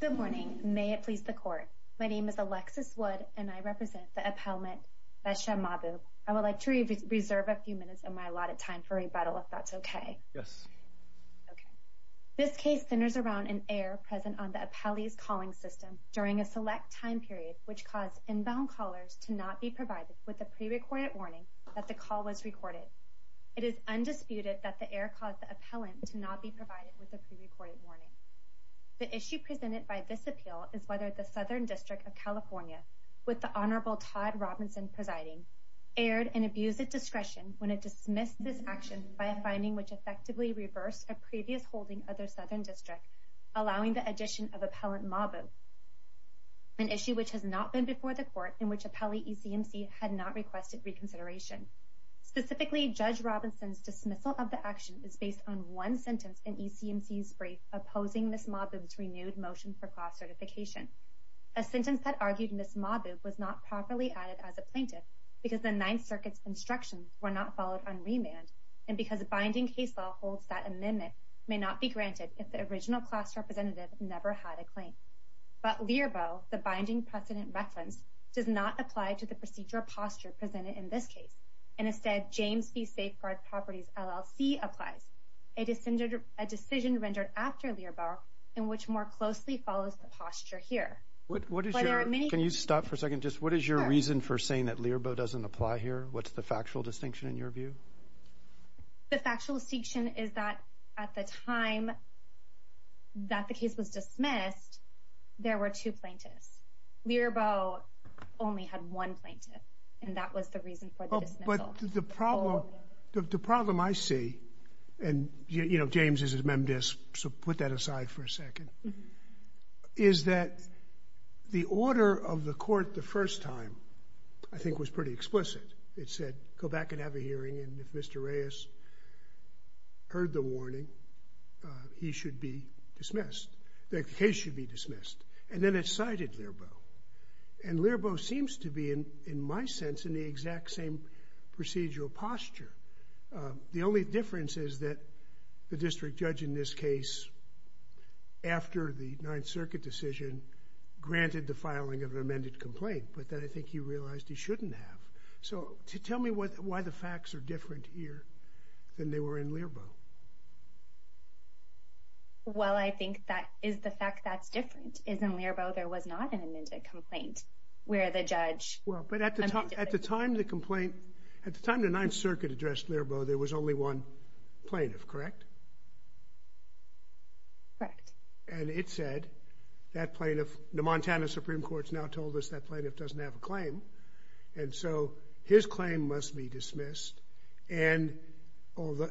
Good morning. May it please the court. My name is Alexis Wood and I represent the appellant Beheshta Mahboob. I would like to reserve a few minutes of my allotted time for rebuttal if that's okay. Yes. This case centers around an error present on the appellee's calling system during a select time period which caused inbound callers to not be provided with a pre-recorded warning that the call was recorded. It is undisputed that the error caused the appellant to not be provided with a pre-recorded warning. The issue presented by this appeal is whether the Southern District of California, with the Honorable Todd Robinson presiding, aired and abused its discretion when it dismissed this action by a finding which effectively reversed a previous holding of their Southern District, allowing the addition of appellant Mahboob, an issue which has not been before the court in which appellee ECMC had not requested reconsideration. Specifically, Judge ECMC's brief opposing Ms. Mahboob's renewed motion for class certification. A sentence that argued Ms. Mahboob was not properly added as a plaintiff because the Ninth Circuit's instructions were not followed on remand and because a binding case law holds that amendment may not be granted if the original class representative never had a claim. But Lierbaugh, the binding precedent reference, does not apply to the procedure posture presented in this case and instead James v. Safeguard Properties LLC applies, a decision rendered after Lierbaugh in which more closely follows the posture here. Can you stop for a second? Just what is your reason for saying that Lierbaugh doesn't apply here? What's the factual distinction in your view? The factual distinction is that at the time that the case was dismissed, there were two plaintiffs. Lierbaugh only had one plaintiff and that was the reason for the dismissal. But the problem I see, and you know, James is a MemDisc, so put that aside for a second, is that the order of the court the first time, I think, was pretty explicit. It said go back and have a hearing and if Mr. Reyes heard the warning, he should be dismissed. The case should be dismissed. And then it was Lierbaugh. And Lierbaugh seems to be, in my sense, in the exact same procedural posture. The only difference is that the district judge in this case, after the Ninth Circuit decision, granted the filing of an amended complaint, but that I think he realized he shouldn't have. So tell me why the facts are different here than they were in Lierbaugh. Well, I think that is the fact that's different is in Lierbaugh there was not an amended complaint where the judge... Well, but at the time the complaint, at the time the Ninth Circuit addressed Lierbaugh, there was only one plaintiff, correct? Correct. And it said that plaintiff, the Montana Supreme Court's now told us that plaintiff doesn't have a claim, and so his claim must be dismissed. And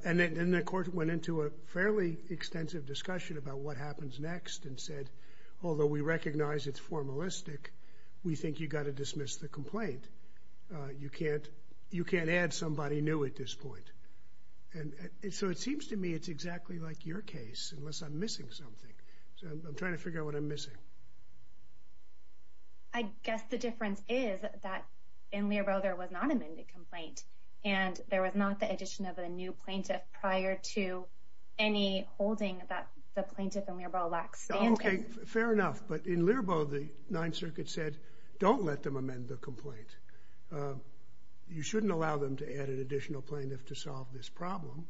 then the court went into a fairly extensive discussion about what happens next and said, although we recognize it's formalistic, we think you got to dismiss the complaint. You can't add somebody new at this point. And so it seems to me it's exactly like your case, unless I'm missing something. So I'm trying to figure out what I'm missing. I guess the difference is that in Lierbaugh there was not an amended complaint, and there was not the addition of a new plaintiff. Okay, fair enough. But in Lierbaugh the Ninth Circuit said don't let them amend the complaint. You shouldn't allow them to add an additional plaintiff to solve this problem.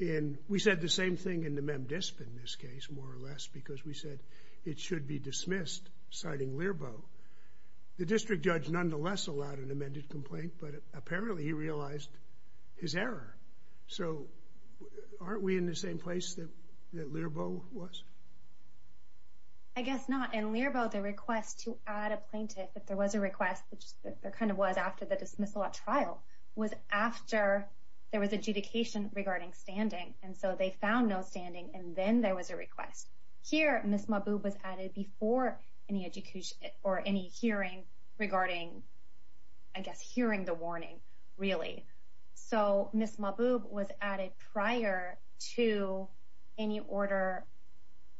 And we said the same thing in the MemDisp in this case, more or less, because we said it should be dismissed, citing Lierbaugh. The district judge nonetheless allowed an amended complaint, but apparently he realized his error. So aren't we in the same place that Lierbaugh was? I guess not. In Lierbaugh, the request to add a plaintiff, if there was a request, which there kind of was after the dismissal at trial, was after there was adjudication regarding standing. And so they found no standing, and then there was a request. Here, Ms. Mahboob was added before any hearing regarding, I guess, hearing the prior to any order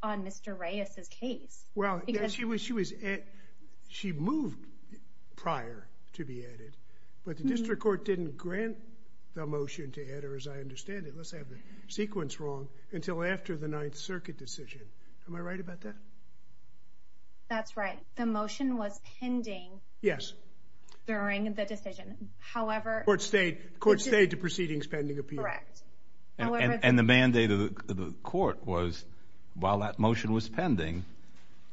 on Mr. Reyes's case. Well, she moved prior to be added, but the district court didn't grant the motion to add her, as I understand it, unless I have the sequence wrong, until after the Ninth Circuit decision. Am I right about that? That's right. The motion was pending. Yes. During the mandate of the court was, while that motion was pending,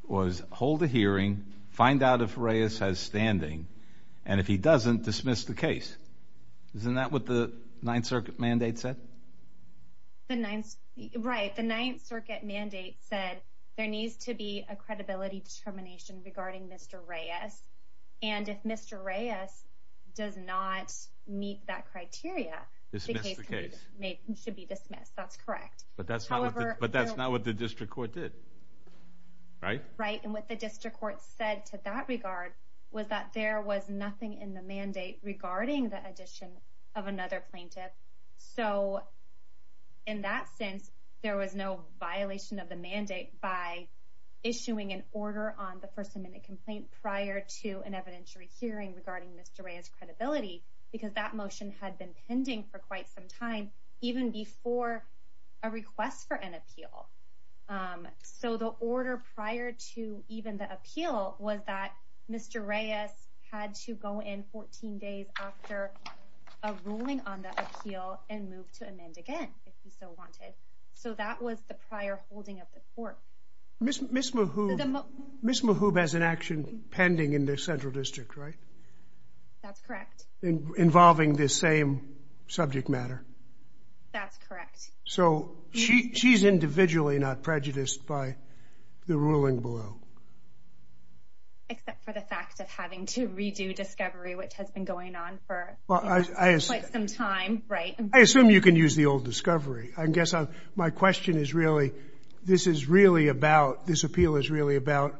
was hold a hearing, find out if Reyes has standing, and if he doesn't, dismiss the case. Isn't that what the Ninth Circuit mandate said? Right. The Ninth Circuit mandate said there needs to be a credibility determination regarding Mr. Reyes, and if that's correct. But that's not what the district court did, right? Right. And what the district court said to that regard was that there was nothing in the mandate regarding the addition of another plaintiff. So, in that sense, there was no violation of the mandate by issuing an order on the First Amendment complaint prior to an evidentiary hearing regarding Mr. Reyes's credibility, because that motion had been pending for quite some time, even before a request for an appeal. Um, so the order prior to even the appeal was that Mr. Reyes had to go in 14 days after a ruling on the appeal and move to amend again if he so wanted. So that was the prior holding of the court. Miss Miss Mahoub has an action pending in the central district, right? That's correct. Involving this same subject matter. That's correct. So she's individually not prejudiced by the ruling below, except for the fact of having to redo discovery, which has been going on for quite some time, right? I assume you can use the old discovery. I guess my question is really, this is really about this appeal is really about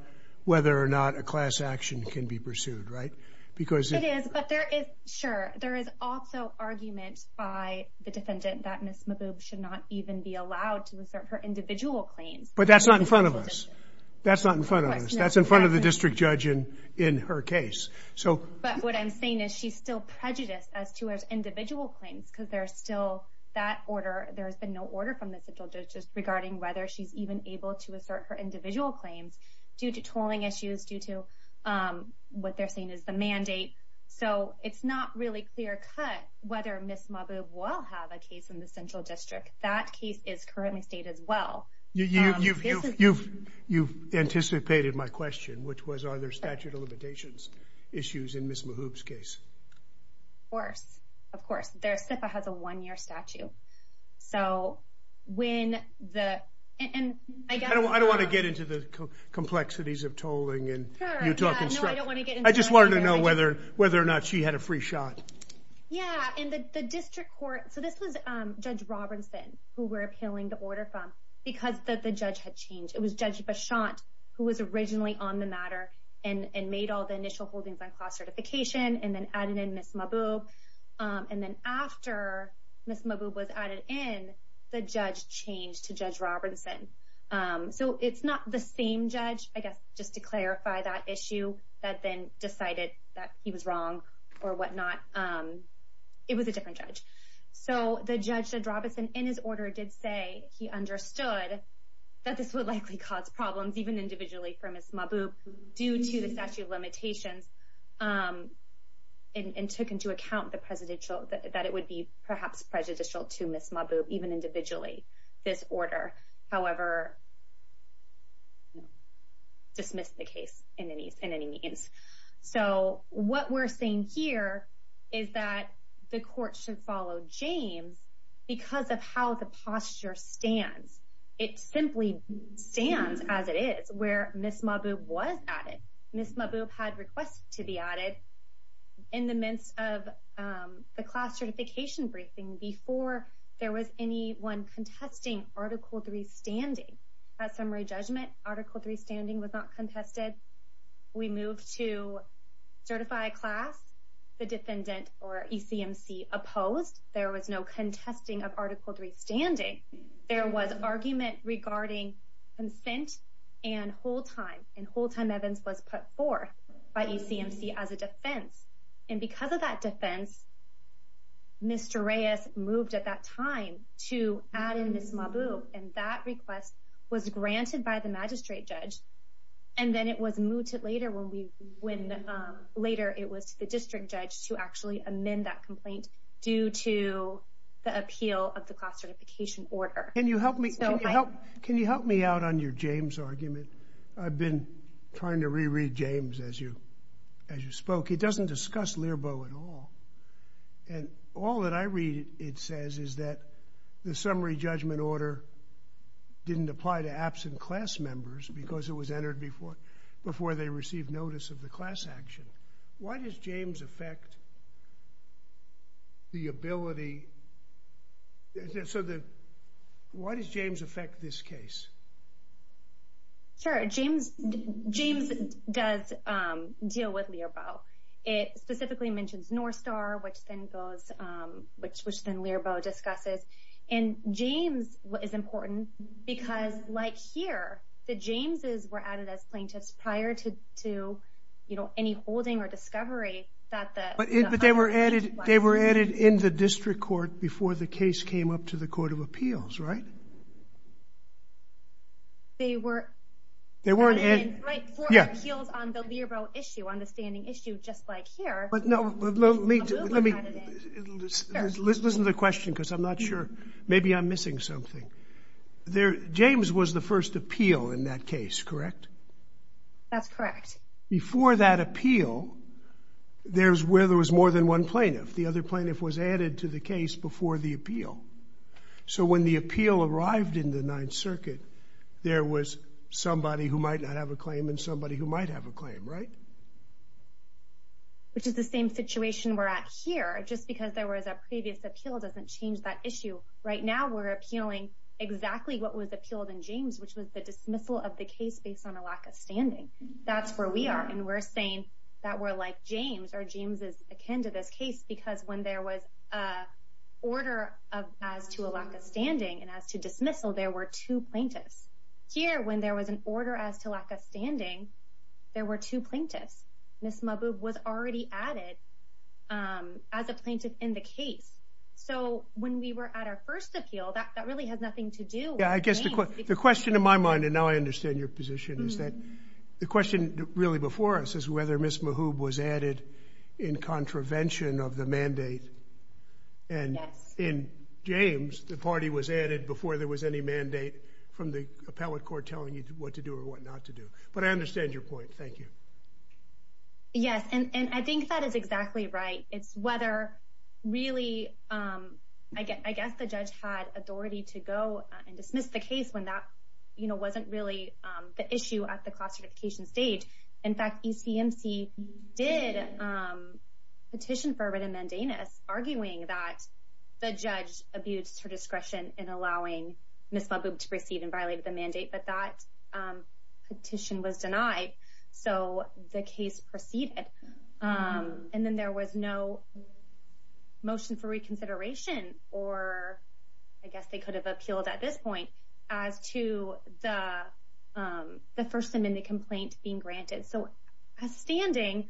whether or not a class action can be pursued, right? Because it is. But there is. Sure, there is also argument by the defendant that Miss Mahoub should not even be allowed to assert her individual claims. But that's not in front of us. That's not in front of us. That's in front of the district judge in in her case. So but what I'm saying is she's still prejudiced as to her individual claims because there's still that order. There has been no order from the central judges regarding whether she's even able to assert her individual claims due to what they're saying is the mandate. So it's not really clear cut whether Miss Mahoub will have a case in the central district. That case is currently state as well. You've anticipated my question, which was, are there statute of limitations issues in Miss Mahoub's case? Of course, of course. Their SIPA has a one year statute. So when the and I don't I don't want to get into the Utah. I don't want to get. I just wanted to know whether whether or not she had a free shot. Yeah. And the district court. So this was Judge Robinson who were appealing to order from because the judge had changed. It was Judge Bashant who was originally on the matter and made all the initial holdings on class certification and then added in Miss Mahoub. Um, and then after Miss Mahoub was added in, the judge changed to Judge Robinson. Um, so it's not the same judge, I guess, just to clarify that issue that then decided that he was wrong or whatnot. Um, it was a different judge. So the judge that Robinson in his order did say he understood that this would likely cause problems even individually for Miss Mahoub due to the statute of limitations. Um, and took into account the presidential that it would be perhaps prejudicial to Miss Mahoub even individually this order. However, no, dismiss the case in any in any means. So what we're saying here is that the court should follow James because of how the posture stands. It simply stands as it is where Miss Mahoub was added. Miss Mahoub had requests to be added in the midst of, um, the class certification briefing before there was anyone contesting Article three standing at summary judgment. Article three standing was not contested. We moved to certify a class. The defendant or E. C. M. C. Opposed. There was no contesting of Article three standing. There was argument regarding consent and whole time and whole time. Evans was put forth by E. C. M. C. As a defense. And Mr Reyes moved at that time to add in Miss Mahoub. And that request was granted by the magistrate judge. And then it was moved to later when we when later it was to the district judge to actually amend that complaint due to the appeal of the classification order. Can you help me? Can you help me out on your James argument? I've been trying to reread James as you as I read, it says is that the summary judgment order didn't apply to absent class members because it was entered before before they received notice of the class action. Why does James affect the ability? So the why does James affect this case? Sure. James James does deal with Lear bow. It specifically mentions North star, which then goes, um, which was then Lear bow discusses. And James is important because, like here, the James is were added as plaintiffs prior to to, you know, any holding or discovery that but they were added. They were added in the district court before the case came up to the Court of Appeals, right? They were. They weren't. Yeah. Heels on the Lear bow issue on the standing issue, just like here. But no, let me let me listen to the question because I'm not sure. Maybe I'm missing something there. James was the first appeal in that case, correct? That's correct. Before that appeal, there's where there was more than one plaintiff. The other plaintiff was added to the case before the appeal. So when the appeal arrived in the Ninth Circuit, there was somebody who might not have a claim and somebody who might have a claim, right? Which is the same situation we're at here. Just because there was a previous appeal doesn't change that issue. Right now, we're appealing exactly what was appealed in James, which was the dismissal of the case based on a lack of standing. That's where we are. And we're saying that we're like James or James is akin to this case, because when there was a order of as to a lack of standing and as to dismissal, there were two plaintiffs here. When there was an order as to lack of standing, there were two plaintiffs. Ms. Mahboob was already added as a plaintiff in the case. So when we were at our first appeal, that really has nothing to do with James. Yeah, I guess the question in my mind, and now I understand your position, is that the question really before us is whether Ms. Mahboob was added in contravention of the mandate. And in James, the party was added before there was any mandate from the what to do or what not to do. But I understand your point. Thank you. Yes, and I think that is exactly right. It's whether really, I guess the judge had authority to go and dismiss the case when that wasn't really the issue at the class certification stage. In fact, ECMC did petition for a written mandamus arguing that the judge abused her discretion in allowing Ms. Mahboob to receive and violate the mandate, but that petition was denied. So the case proceeded. And then there was no motion for reconsideration, or I guess they could have appealed at this point, as to the first amendment complaint being granted. So as standing,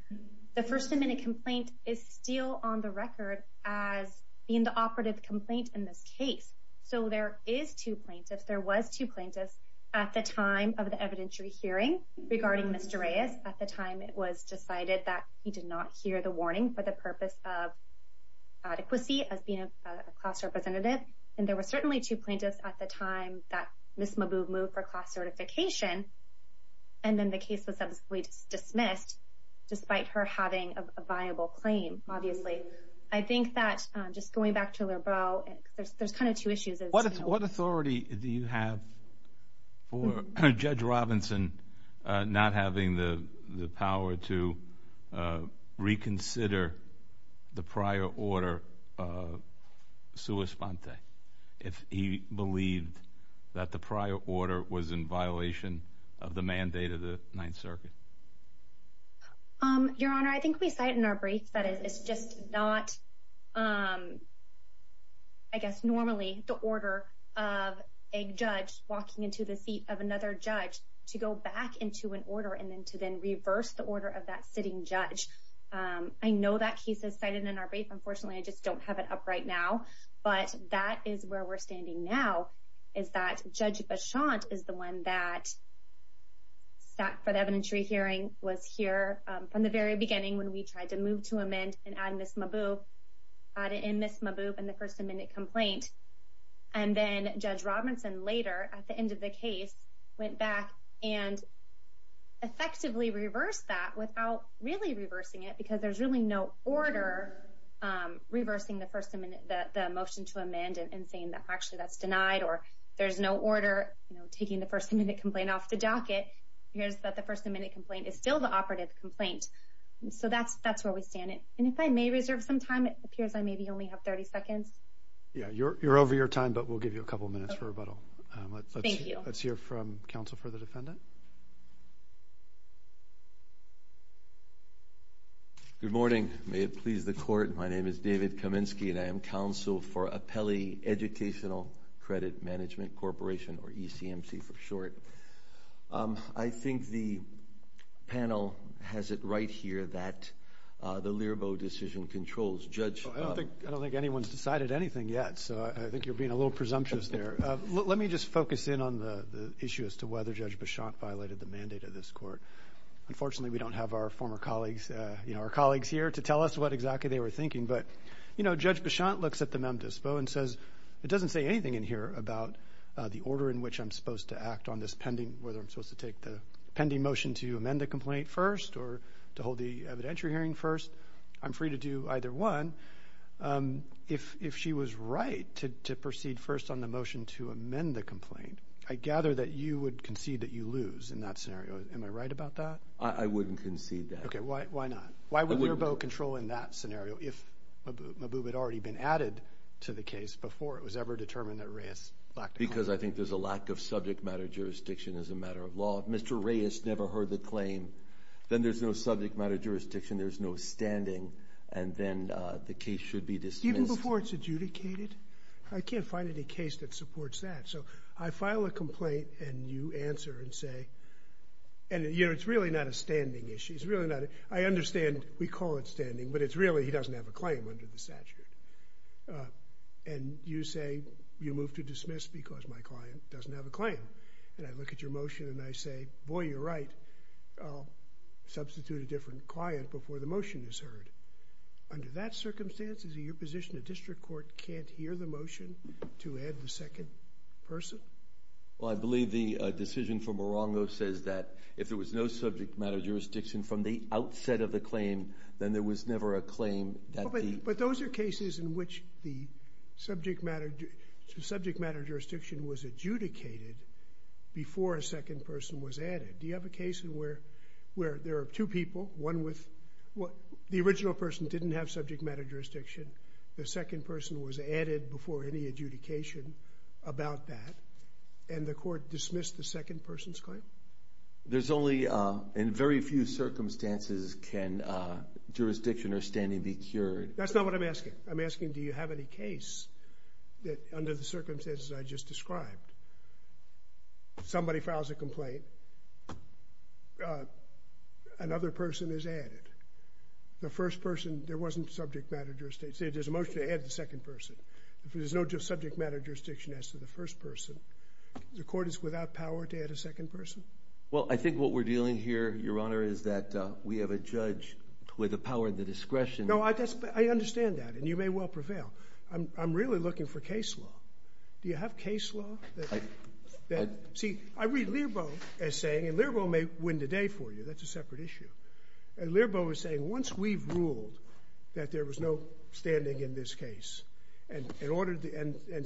the first amendment complaint is still on the record as being the operative complaint in this case. So there is two plaintiffs. There was two plaintiffs at the time of the evidentiary hearing regarding Mr. Reyes. At the time, it was decided that he did not hear the warning for the purpose of adequacy as being a class representative. And there were certainly two plaintiffs at the time that Ms. Mahboob moved for class certification. And then the case was subsequently dismissed, despite her having a viable claim. Obviously, I think that just going back to Lerbeau, there's kind of two issues. What authority do you have for Judge Robinson not having the power to reconsider the prior order of sua sponte, if he believed that the prior order was in violation of the mandate of the Ninth Circuit? Your Honor, I think we cite in our brief that it's just not, I guess, normally the order of a judge walking into the seat of another judge to go back into an order and then to then reverse the order of that sitting judge. I know that case is cited in our brief. Unfortunately, I just don't have it up right now. But that is where we're standing now, is that Judge Beauchamp is the one that sat for the evidentiary hearing, was here from the very beginning when we tried to move to amend and add in Ms. Mahboob and the first amendment complaint. And then Judge Robinson later, at the end of the case, went back and effectively reversed that without really reversing it, because there's really no order reversing the motion to amend and saying that actually that's denied, or there's no order taking the first amendment complaint off the hearing. It appears that the first amendment complaint is still the operative complaint. So that's where we stand. And if I may reserve some time, it appears I maybe only have 30 seconds. Yeah, you're over your time, but we'll give you a couple minutes for rebuttal. Thank you. Let's hear from counsel for the defendant. Good morning. May it please the Court, my name is David Kaminsky, and I am counsel for Apelli Educational Credit Management Corporation, or ECMC for short. I think the panel has it right here that the Lierbaugh decision controls Judge... I don't think anyone's decided anything yet, so I think you're being a little presumptuous there. Let me just focus in on the issue as to whether Judge Bichonte violated the mandate of this court. Unfortunately, we don't have our former colleagues, you know, our colleagues here to tell us what exactly they were thinking. But, you know, Judge Bichonte looks at the mem dispo and says, it doesn't say anything in here about the order in which I'm supposed to whether I'm supposed to take the pending motion to amend the complaint first or to hold the evidentiary hearing first. I'm free to do either one. If she was right to proceed first on the motion to amend the complaint, I gather that you would concede that you lose in that scenario. Am I right about that? I wouldn't concede that. Okay, why not? Why would Lierbaugh control in that scenario if Maboub had already been added to the case before it was ever determined that Reyes lacked a jurisdiction as a matter of law? If Mr. Reyes never heard the claim, then there's no subject matter jurisdiction, there's no standing, and then the case should be dismissed. Even before it's adjudicated? I can't find any case that supports that. So I file a complaint and you answer and say, and, you know, it's really not a standing issue. It's really not. I understand we call it standing, but it's really he doesn't have a claim under the statute. And you say you move to And I look at your motion and I say, boy, you're right. I'll substitute a different client before the motion is heard. Under that circumstance, is it your position the district court can't hear the motion to add the second person? Well, I believe the decision from Morongo says that if there was no subject matter jurisdiction from the outset of the claim, then there was never a claim that the... But those are cases in which the subject matter jurisdiction was adjudicated before a second person was added. Do you have a case where there are two people, one with... The original person didn't have subject matter jurisdiction, the second person was added before any adjudication about that, and the court dismissed the second person's claim? There's only... In very few circumstances can jurisdiction or standing be cured. That's not what I'm asking. I'm asking do you have any case that under the case, somebody files a complaint, another person is added? The first person, there wasn't subject matter jurisdiction. Say there's a motion to add the second person. If there's no subject matter jurisdiction as to the first person, the court is without power to add a second person? Well, I think what we're dealing here, Your Honor, is that we have a judge with the power and the discretion... No, I understand that, and you may well prevail. I'm really looking for a case law that... See, I read Lerbo as saying, and Lerbo may win the day for you, that's a separate issue. And Lerbo is saying, once we've ruled that there was no standing in this case and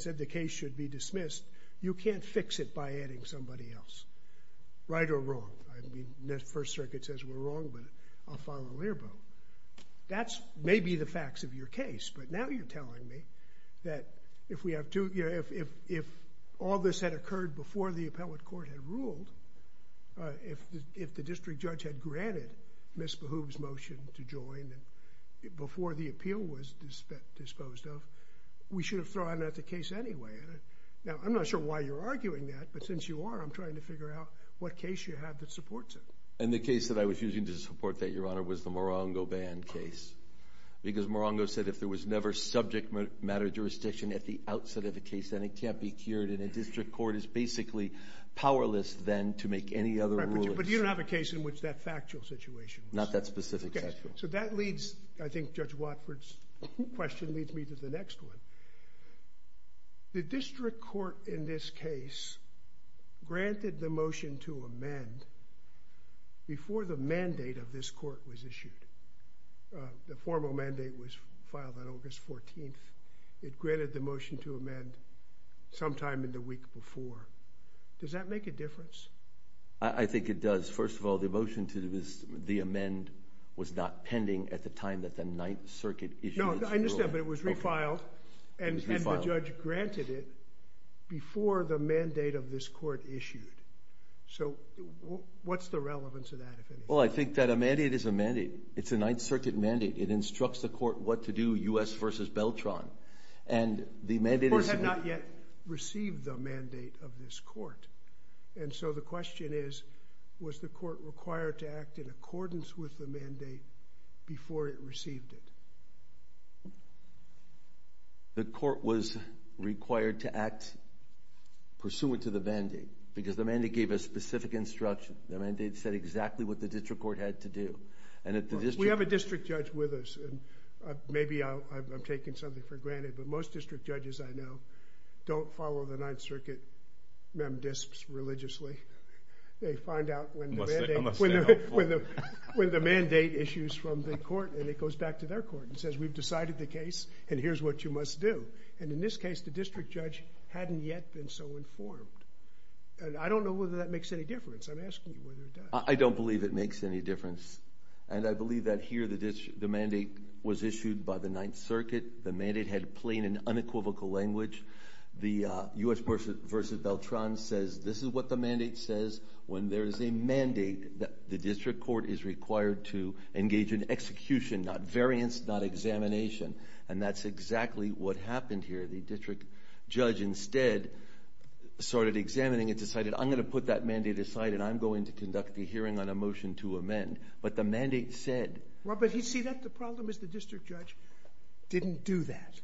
said the case should be dismissed, you can't fix it by adding somebody else. Right or wrong? I mean, the First Circuit says we're wrong, but I'll follow Lerbo. That's maybe the facts of your case, but now you're telling me that if all this had occurred before the appellate court had ruled, if the district judge had granted Ms. Behoove's motion to join before the appeal was disposed of, we should have thrown out the case anyway. Now, I'm not sure why you're arguing that, but since you are, I'm trying to figure out what case you have that supports it. And the case that I was using to support that, Your Honor, was the Morongo Band case. Because Morongo said if there was never subject matter jurisdiction at the outset of a case, then it can't be cured, and a district court is basically powerless then to make any other ruling. But you don't have a case in which that factual situation was. Not that specific factual. Okay, so that leads, I think Judge Watford's question leads me to the next one. The district court in this case granted the motion to amend before the mandate of this court was approved. It granted the motion to amend sometime in the week before. Does that make a difference? I think it does. First of all, the motion to the amend was not pending at the time that the Ninth Circuit issued its ruling. No, I understand, but it was refiled, and the judge granted it before the mandate of this court issued. So what's the relevance of that, if anything? Well, I think that a mandate is a mandate. It's a Ninth Circuit mandate. It instructs the court. The court had not yet received the mandate of this court. And so the question is, was the court required to act in accordance with the mandate before it received it? The court was required to act pursuant to the mandate, because the mandate gave a specific instruction. The mandate said exactly what the district court had to do. We have a district judge with us, and maybe I'm taking something for granted, but most district judges I know don't follow the Ninth Circuit mem disps religiously. They find out when the mandate... I'm gonna say helpful. When the mandate issues from the court, and it goes back to their court and says, we've decided the case, and here's what you must do. And in this case, the district judge hadn't yet been so informed. And I don't know whether that makes any difference. I'm asking you whether it does. I don't believe it makes any difference. And I believe that here, the mandate was issued by the Ninth Circuit. The mandate had plain and unequivocal language. The US versus Beltran says, this is what the mandate says. When there is a mandate, the district court is required to engage in execution, not variance, not examination. And that's exactly what happened here. The district judge instead started examining and decided, I'm gonna put that mandate aside, and I'm going to conduct a hearing on a motion to amend. But the mandate said... But you see that the problem is the district judge didn't do that.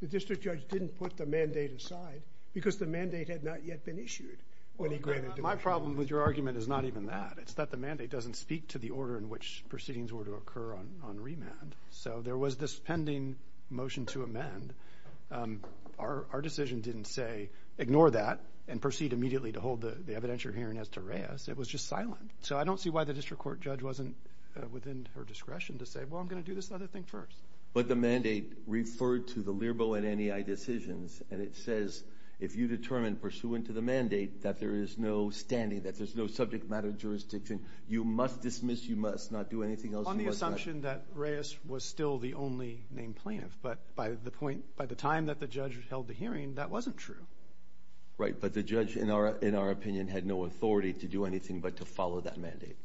The district judge didn't put the mandate aside because the mandate had not yet been issued when he granted... My problem with your argument is not even that. It's that the mandate doesn't speak to the order in which proceedings were to occur on remand. So there was this pending motion to amend. Our decision didn't say, ignore that and proceed immediately to hold the evidentiary hearing as to Reyes. It was just silent. So I don't see why the district court judge wasn't within her discretion to say, well, I'm gonna do this other thing first. But the mandate referred to the LIRBO and NEI decisions, and it says, if you determine pursuant to the mandate that there is no standing, that there's no subject matter jurisdiction, you must dismiss, you must not do anything else... On the assumption that Reyes was still the only named plaintiff, but by the point... By the time that the judge held the hearing, that wasn't true. Right. But the judge, in our opinion, had no authority to do anything but to follow that mandate.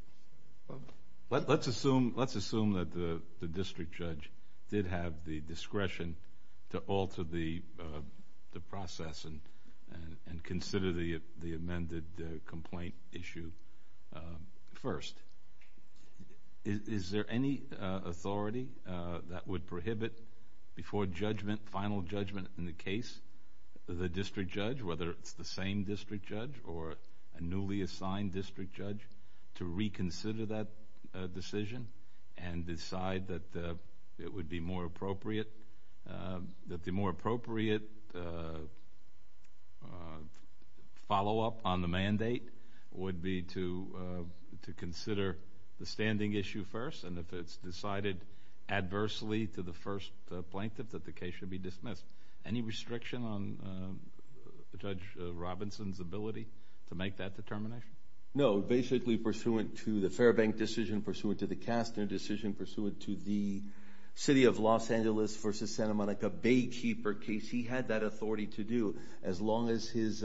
Let's assume that the district judge did have the discretion to alter the process and consider the amended complaint issue first. Is there any authority that would prohibit before judgment, final district judge, whether it's the same district judge or a newly assigned district judge, to reconsider that decision and decide that it would be more appropriate... That the more appropriate follow up on the mandate would be to consider the standing issue first, and if it's decided adversely to the first plaintiff, that the case should be dismissed. Any restriction on Judge Robinson's ability to make that determination? No. Basically, pursuant to the Fairbank decision, pursuant to the Castner decision, pursuant to the City of Los Angeles versus Santa Monica Baykeeper case, he had that authority to do as long as his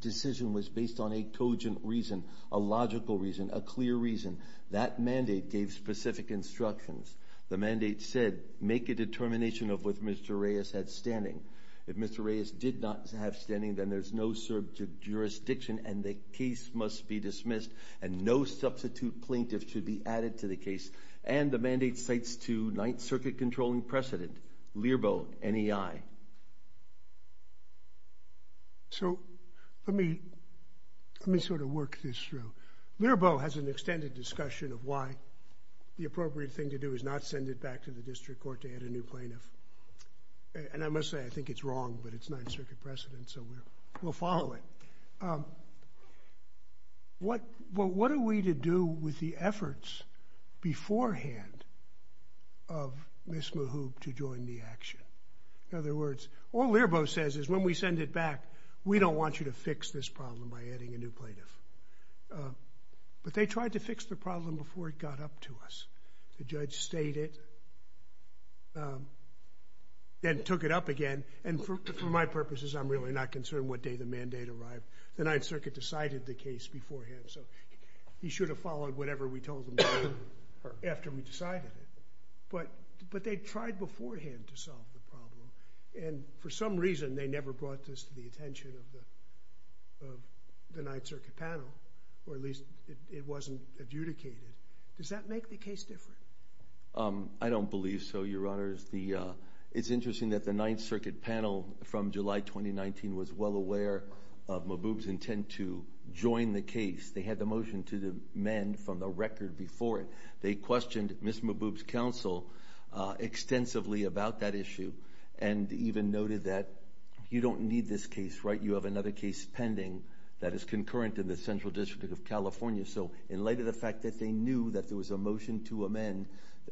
decision was based on a cogent reason, a logical reason, a clear reason. That mandate gave specific instructions. The mandate said, make a determination of what Mr. Reyes had standing. If Mr. Reyes did not have standing, then there's no jurisdiction and the case must be dismissed, and no substitute plaintiff should be added to the case. And the mandate cites to Ninth Circuit Controlling President, Learbow, NEI. So let me sort of work this through. Learbow has an extended discussion of why the appropriate thing to do is not send it back to the district court to add a new plaintiff. And I must say, I think it's wrong, but it's Ninth Circuit President, so we'll follow it. What are we to do with the efforts beforehand of Ms. Mahoub to join the action? In other words, all Learbow says is, when we send it back, we don't want you to fix this problem by adding a new plaintiff. But they tried to fix the problem before it got up to us. The judge stayed it, then took it up again, and for my purposes, I'm really not concerned what day the mandate arrived. The Ninth Circuit decided the case beforehand, so he should have followed whatever we told him to do after we decided it. But they tried beforehand to solve the problem, and for some reason, they never brought this to the attention of the Ninth Circuit panel, or at least it wasn't adjudicated. Does that make the case different? I don't believe so, Your Honors. It's interesting that the Ninth Circuit panel from July 2019 was well aware of Mahoub's intent to join the case. They had the motion to amend from the record before it. They questioned Ms. Mahoub's counsel extensively about that issue and even noted that you don't need this case, right? You have another case pending that is concurrent in the Central District of California. So in light of the fact that they knew that there was a motion to amend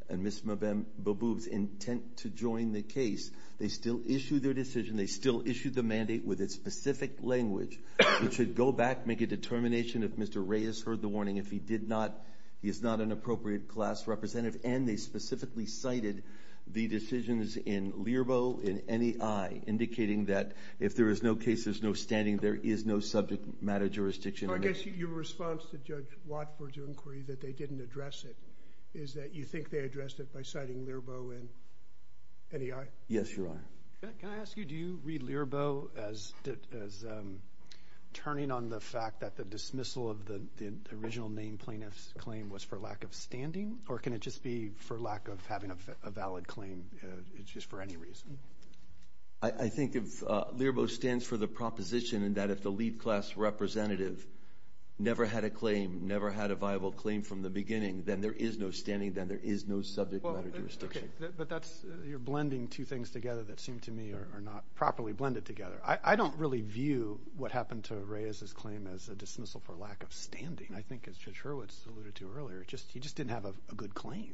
and Ms. Mahoub's intent to join the case, they still issued their decision. They still issued the mandate with its specific language. We should go back, make a determination if Mr. Reyes heard the warning. If he did not, he is not an appropriate class representative. And they specifically cited the decisions in LIRBO and NEI, indicating that if there is no case, there's no standing, there is no subject matter jurisdiction. I guess your response to Judge Watford's inquiry that they didn't address it is that you think they addressed it by citing LIRBO and NEI? Yes, Your Honor. Can I ask you, do you read LIRBO as turning on the fact that the dismissal of the original name plaintiff's claim was for lack of having a valid claim, just for any reason? I think if LIRBO stands for the proposition that if the lead class representative never had a claim, never had a viable claim from the beginning, then there is no standing, then there is no subject matter jurisdiction. But that's, you're blending two things together that seem to me are not properly blended together. I don't really view what happened to Reyes' claim as a dismissal for lack of standing. I think as Judge Hurwitz alluded to earlier, he just didn't have a good claim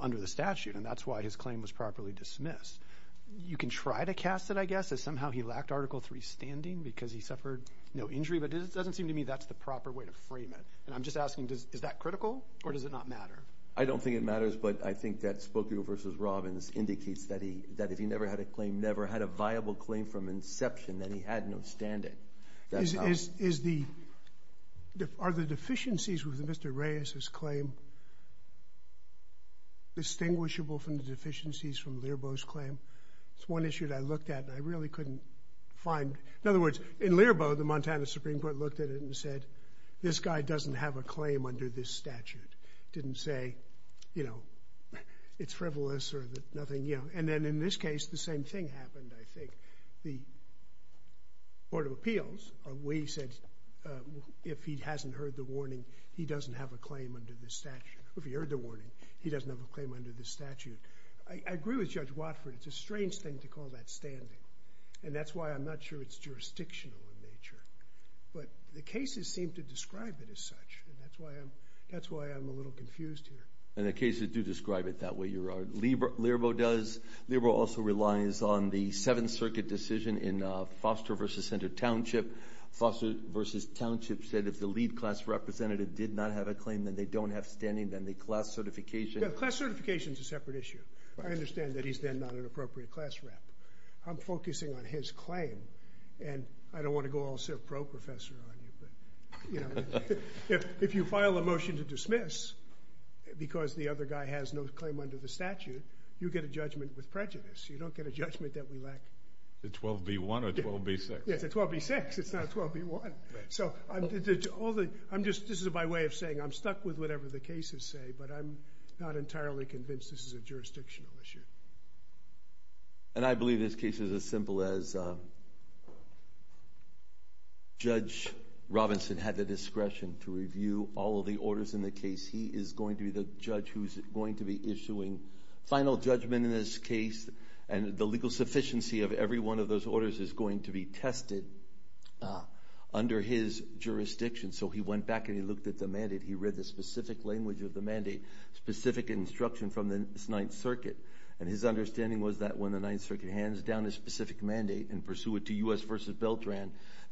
under the statute. And that's why his claim was properly dismissed. You can try to cast it, I guess, as somehow he lacked Article III standing because he suffered no injury. But it doesn't seem to me that's the proper way to frame it. And I'm just asking, is that critical or does it not matter? I don't think it matters, but I think that Spokane v. Robbins indicates that if he never had a claim, never had a viable claim from inception, then he had no standing. Is the, are the deficiencies with Mr. Reyes' claim distinguishable from the deficiencies from Lerbeau's claim? It's one issue that I looked at and I really couldn't find. In other words, in Lerbeau, the Montana Supreme Court looked at it and said, this guy doesn't have a claim under this statute. Didn't say, you know, it's frivolous or nothing, you know. And then in this case, the same thing happened, I think. The Board of Appeals, we said, if he hasn't heard the warning, he doesn't have a claim under this statute. If he heard the warning, he doesn't have a claim under this statute. I agree with Judge Watford. It's a strange thing to call that standing. And that's why I'm not sure it's jurisdictional in nature. But the cases seem to describe it as such. And that's why I'm, that's why I'm a little confused here. And Lerbeau also relies on the Seventh Circuit decision in Foster v. Center Township. Foster v. Township said if the lead class representative did not have a claim, then they don't have standing. Then the class certification... Yeah, the class certification is a separate issue. I understand that he's then not an appropriate class rep. I'm focusing on his claim. And I don't want to go all pro-professor on you, but, you know, if you file a motion to dismiss because the other guy has no claim under the statute, you get a judgment with prejudice. You don't get a judgment that we lack... The 12b-1 or 12b-6? It's a 12b-6. It's not a 12b-1. So I'm just, this is my way of saying I'm stuck with whatever the cases say, but I'm not entirely convinced this is a jurisdictional issue. And I believe this case is as simple as Judge Robinson had the discretion to review all of the orders in the case. He is going to be the judge who's going to be issuing final judgment in this case, and the legal sufficiency of every one of those orders is going to be tested under his jurisdiction. So he went back and he looked at the mandate. He read the specific language of the mandate, specific instruction from the Ninth Circuit, and his understanding was that when the Ninth Circuit hands down a specific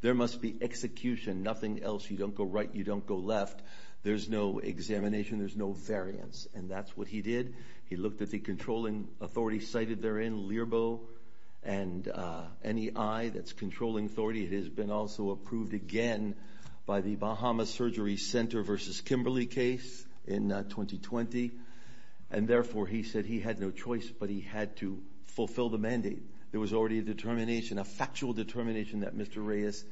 there must be execution, nothing else. You don't go right, you don't go left. There's no examination, there's no variance, and that's what he did. He looked at the controlling authority cited therein, LIRBO, and NEI, that's controlling authority. It has been also approved again by the Bahama Surgery Center v. Kimberly case in 2020, and therefore he said he had no choice, but he had to fulfill the mandate. There was already a determination, a factual determination that Mr. Reyes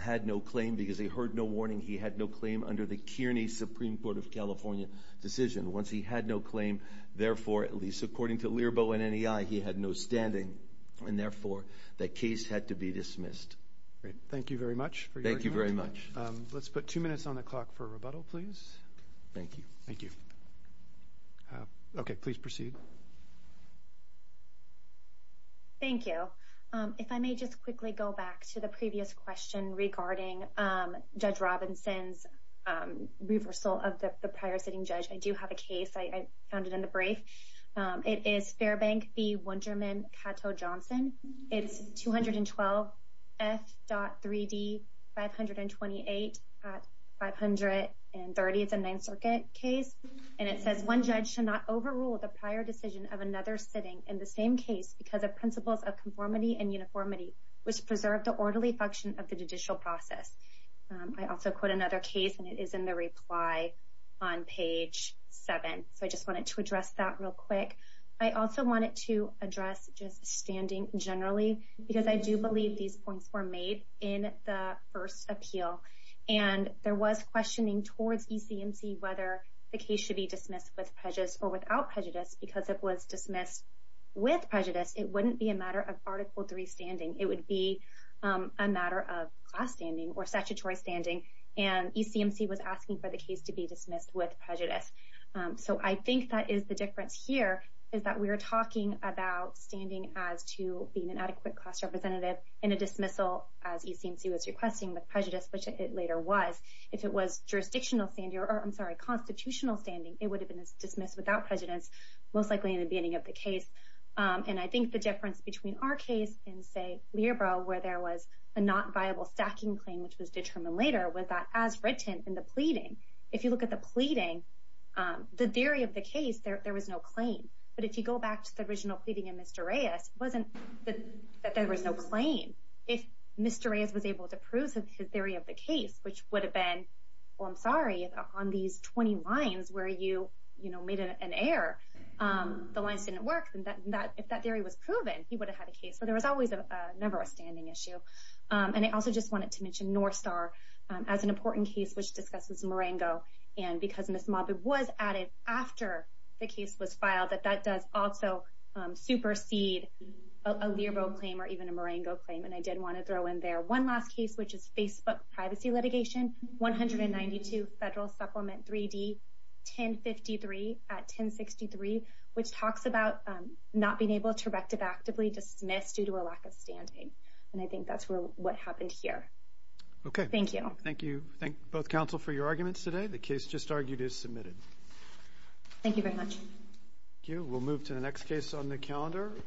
had no claim because he heard no warning. He had no claim under the Kearney Supreme Court of California decision. Once he had no claim, therefore, at least according to LIRBO and NEI, he had no standing, and therefore that case had to be dismissed. Great. Thank you very much for your time. Thank you very much. Let's put two minutes on the clock for rebuttal, please. Thank you. Thank you. Okay, please proceed. Thank you. If I may just quickly go back to the previous question regarding Judge Robinson's reversal of the prior sitting judge. I do have a case. I found it in the brief. It is Fairbank v. Wunderman Cato Johnson. It's 212 F.3d 528 at 530. It's a Ninth Circuit case, and it says, one judge should not overrule the prior decision of another sitting in the same case because of principles of conformity and uniformity, which preserve the orderly function of the judicial process. I also quote another case, and it is in the reply on page seven, so I just wanted to address that real quick. I also wanted to address just standing generally because I do believe these points were made in the first appeal, and there was questioning towards ECMC whether the case be dismissed with prejudice or without prejudice because it was dismissed with prejudice. It wouldn't be a matter of Article 3 standing. It would be a matter of class standing or statutory standing, and ECMC was asking for the case to be dismissed with prejudice. So I think that is the difference here is that we're talking about standing as to being an adequate class representative in a dismissal as ECMC was requesting with prejudice, which it later was. If it was jurisdictional standing or, I'm sorry, constitutional standing, it would have been dismissed without prejudice, most likely in the beginning of the case, and I think the difference between our case in, say, Lierba where there was a not viable stacking claim, which was determined later, was that as written in the pleading. If you look at the pleading, the theory of the case, there was no claim, but if you go back to the original pleading in Mr. Reyes, it wasn't that there was no claim. If Mr. Reyes was able to prove his theory of the case, which would have been, well, I'm sorry, on these 20 lines where you made an error, the lines didn't work, then if that theory was proven, he would have had a case. So there was always never a standing issue, and I also just wanted to mention North Star as an important case which discusses Marengo, and because Ms. Mabu was added after the case was filed, that that does also supersede a Lierba claim or even a Marengo claim, and I did want to throw in there one last case, which is Facebook Privacy Litigation, 192 Federal Supplement 3D, 1053 at 1063, which talks about not being able to rectify actively dismissed due to a lack of standing, and I think that's what happened here. Okay. Thank you. Thank you. Thank both counsel for your arguments today. The case just argued is submitted. Thank you very much. Thank you. We'll move to the next case on the calendar.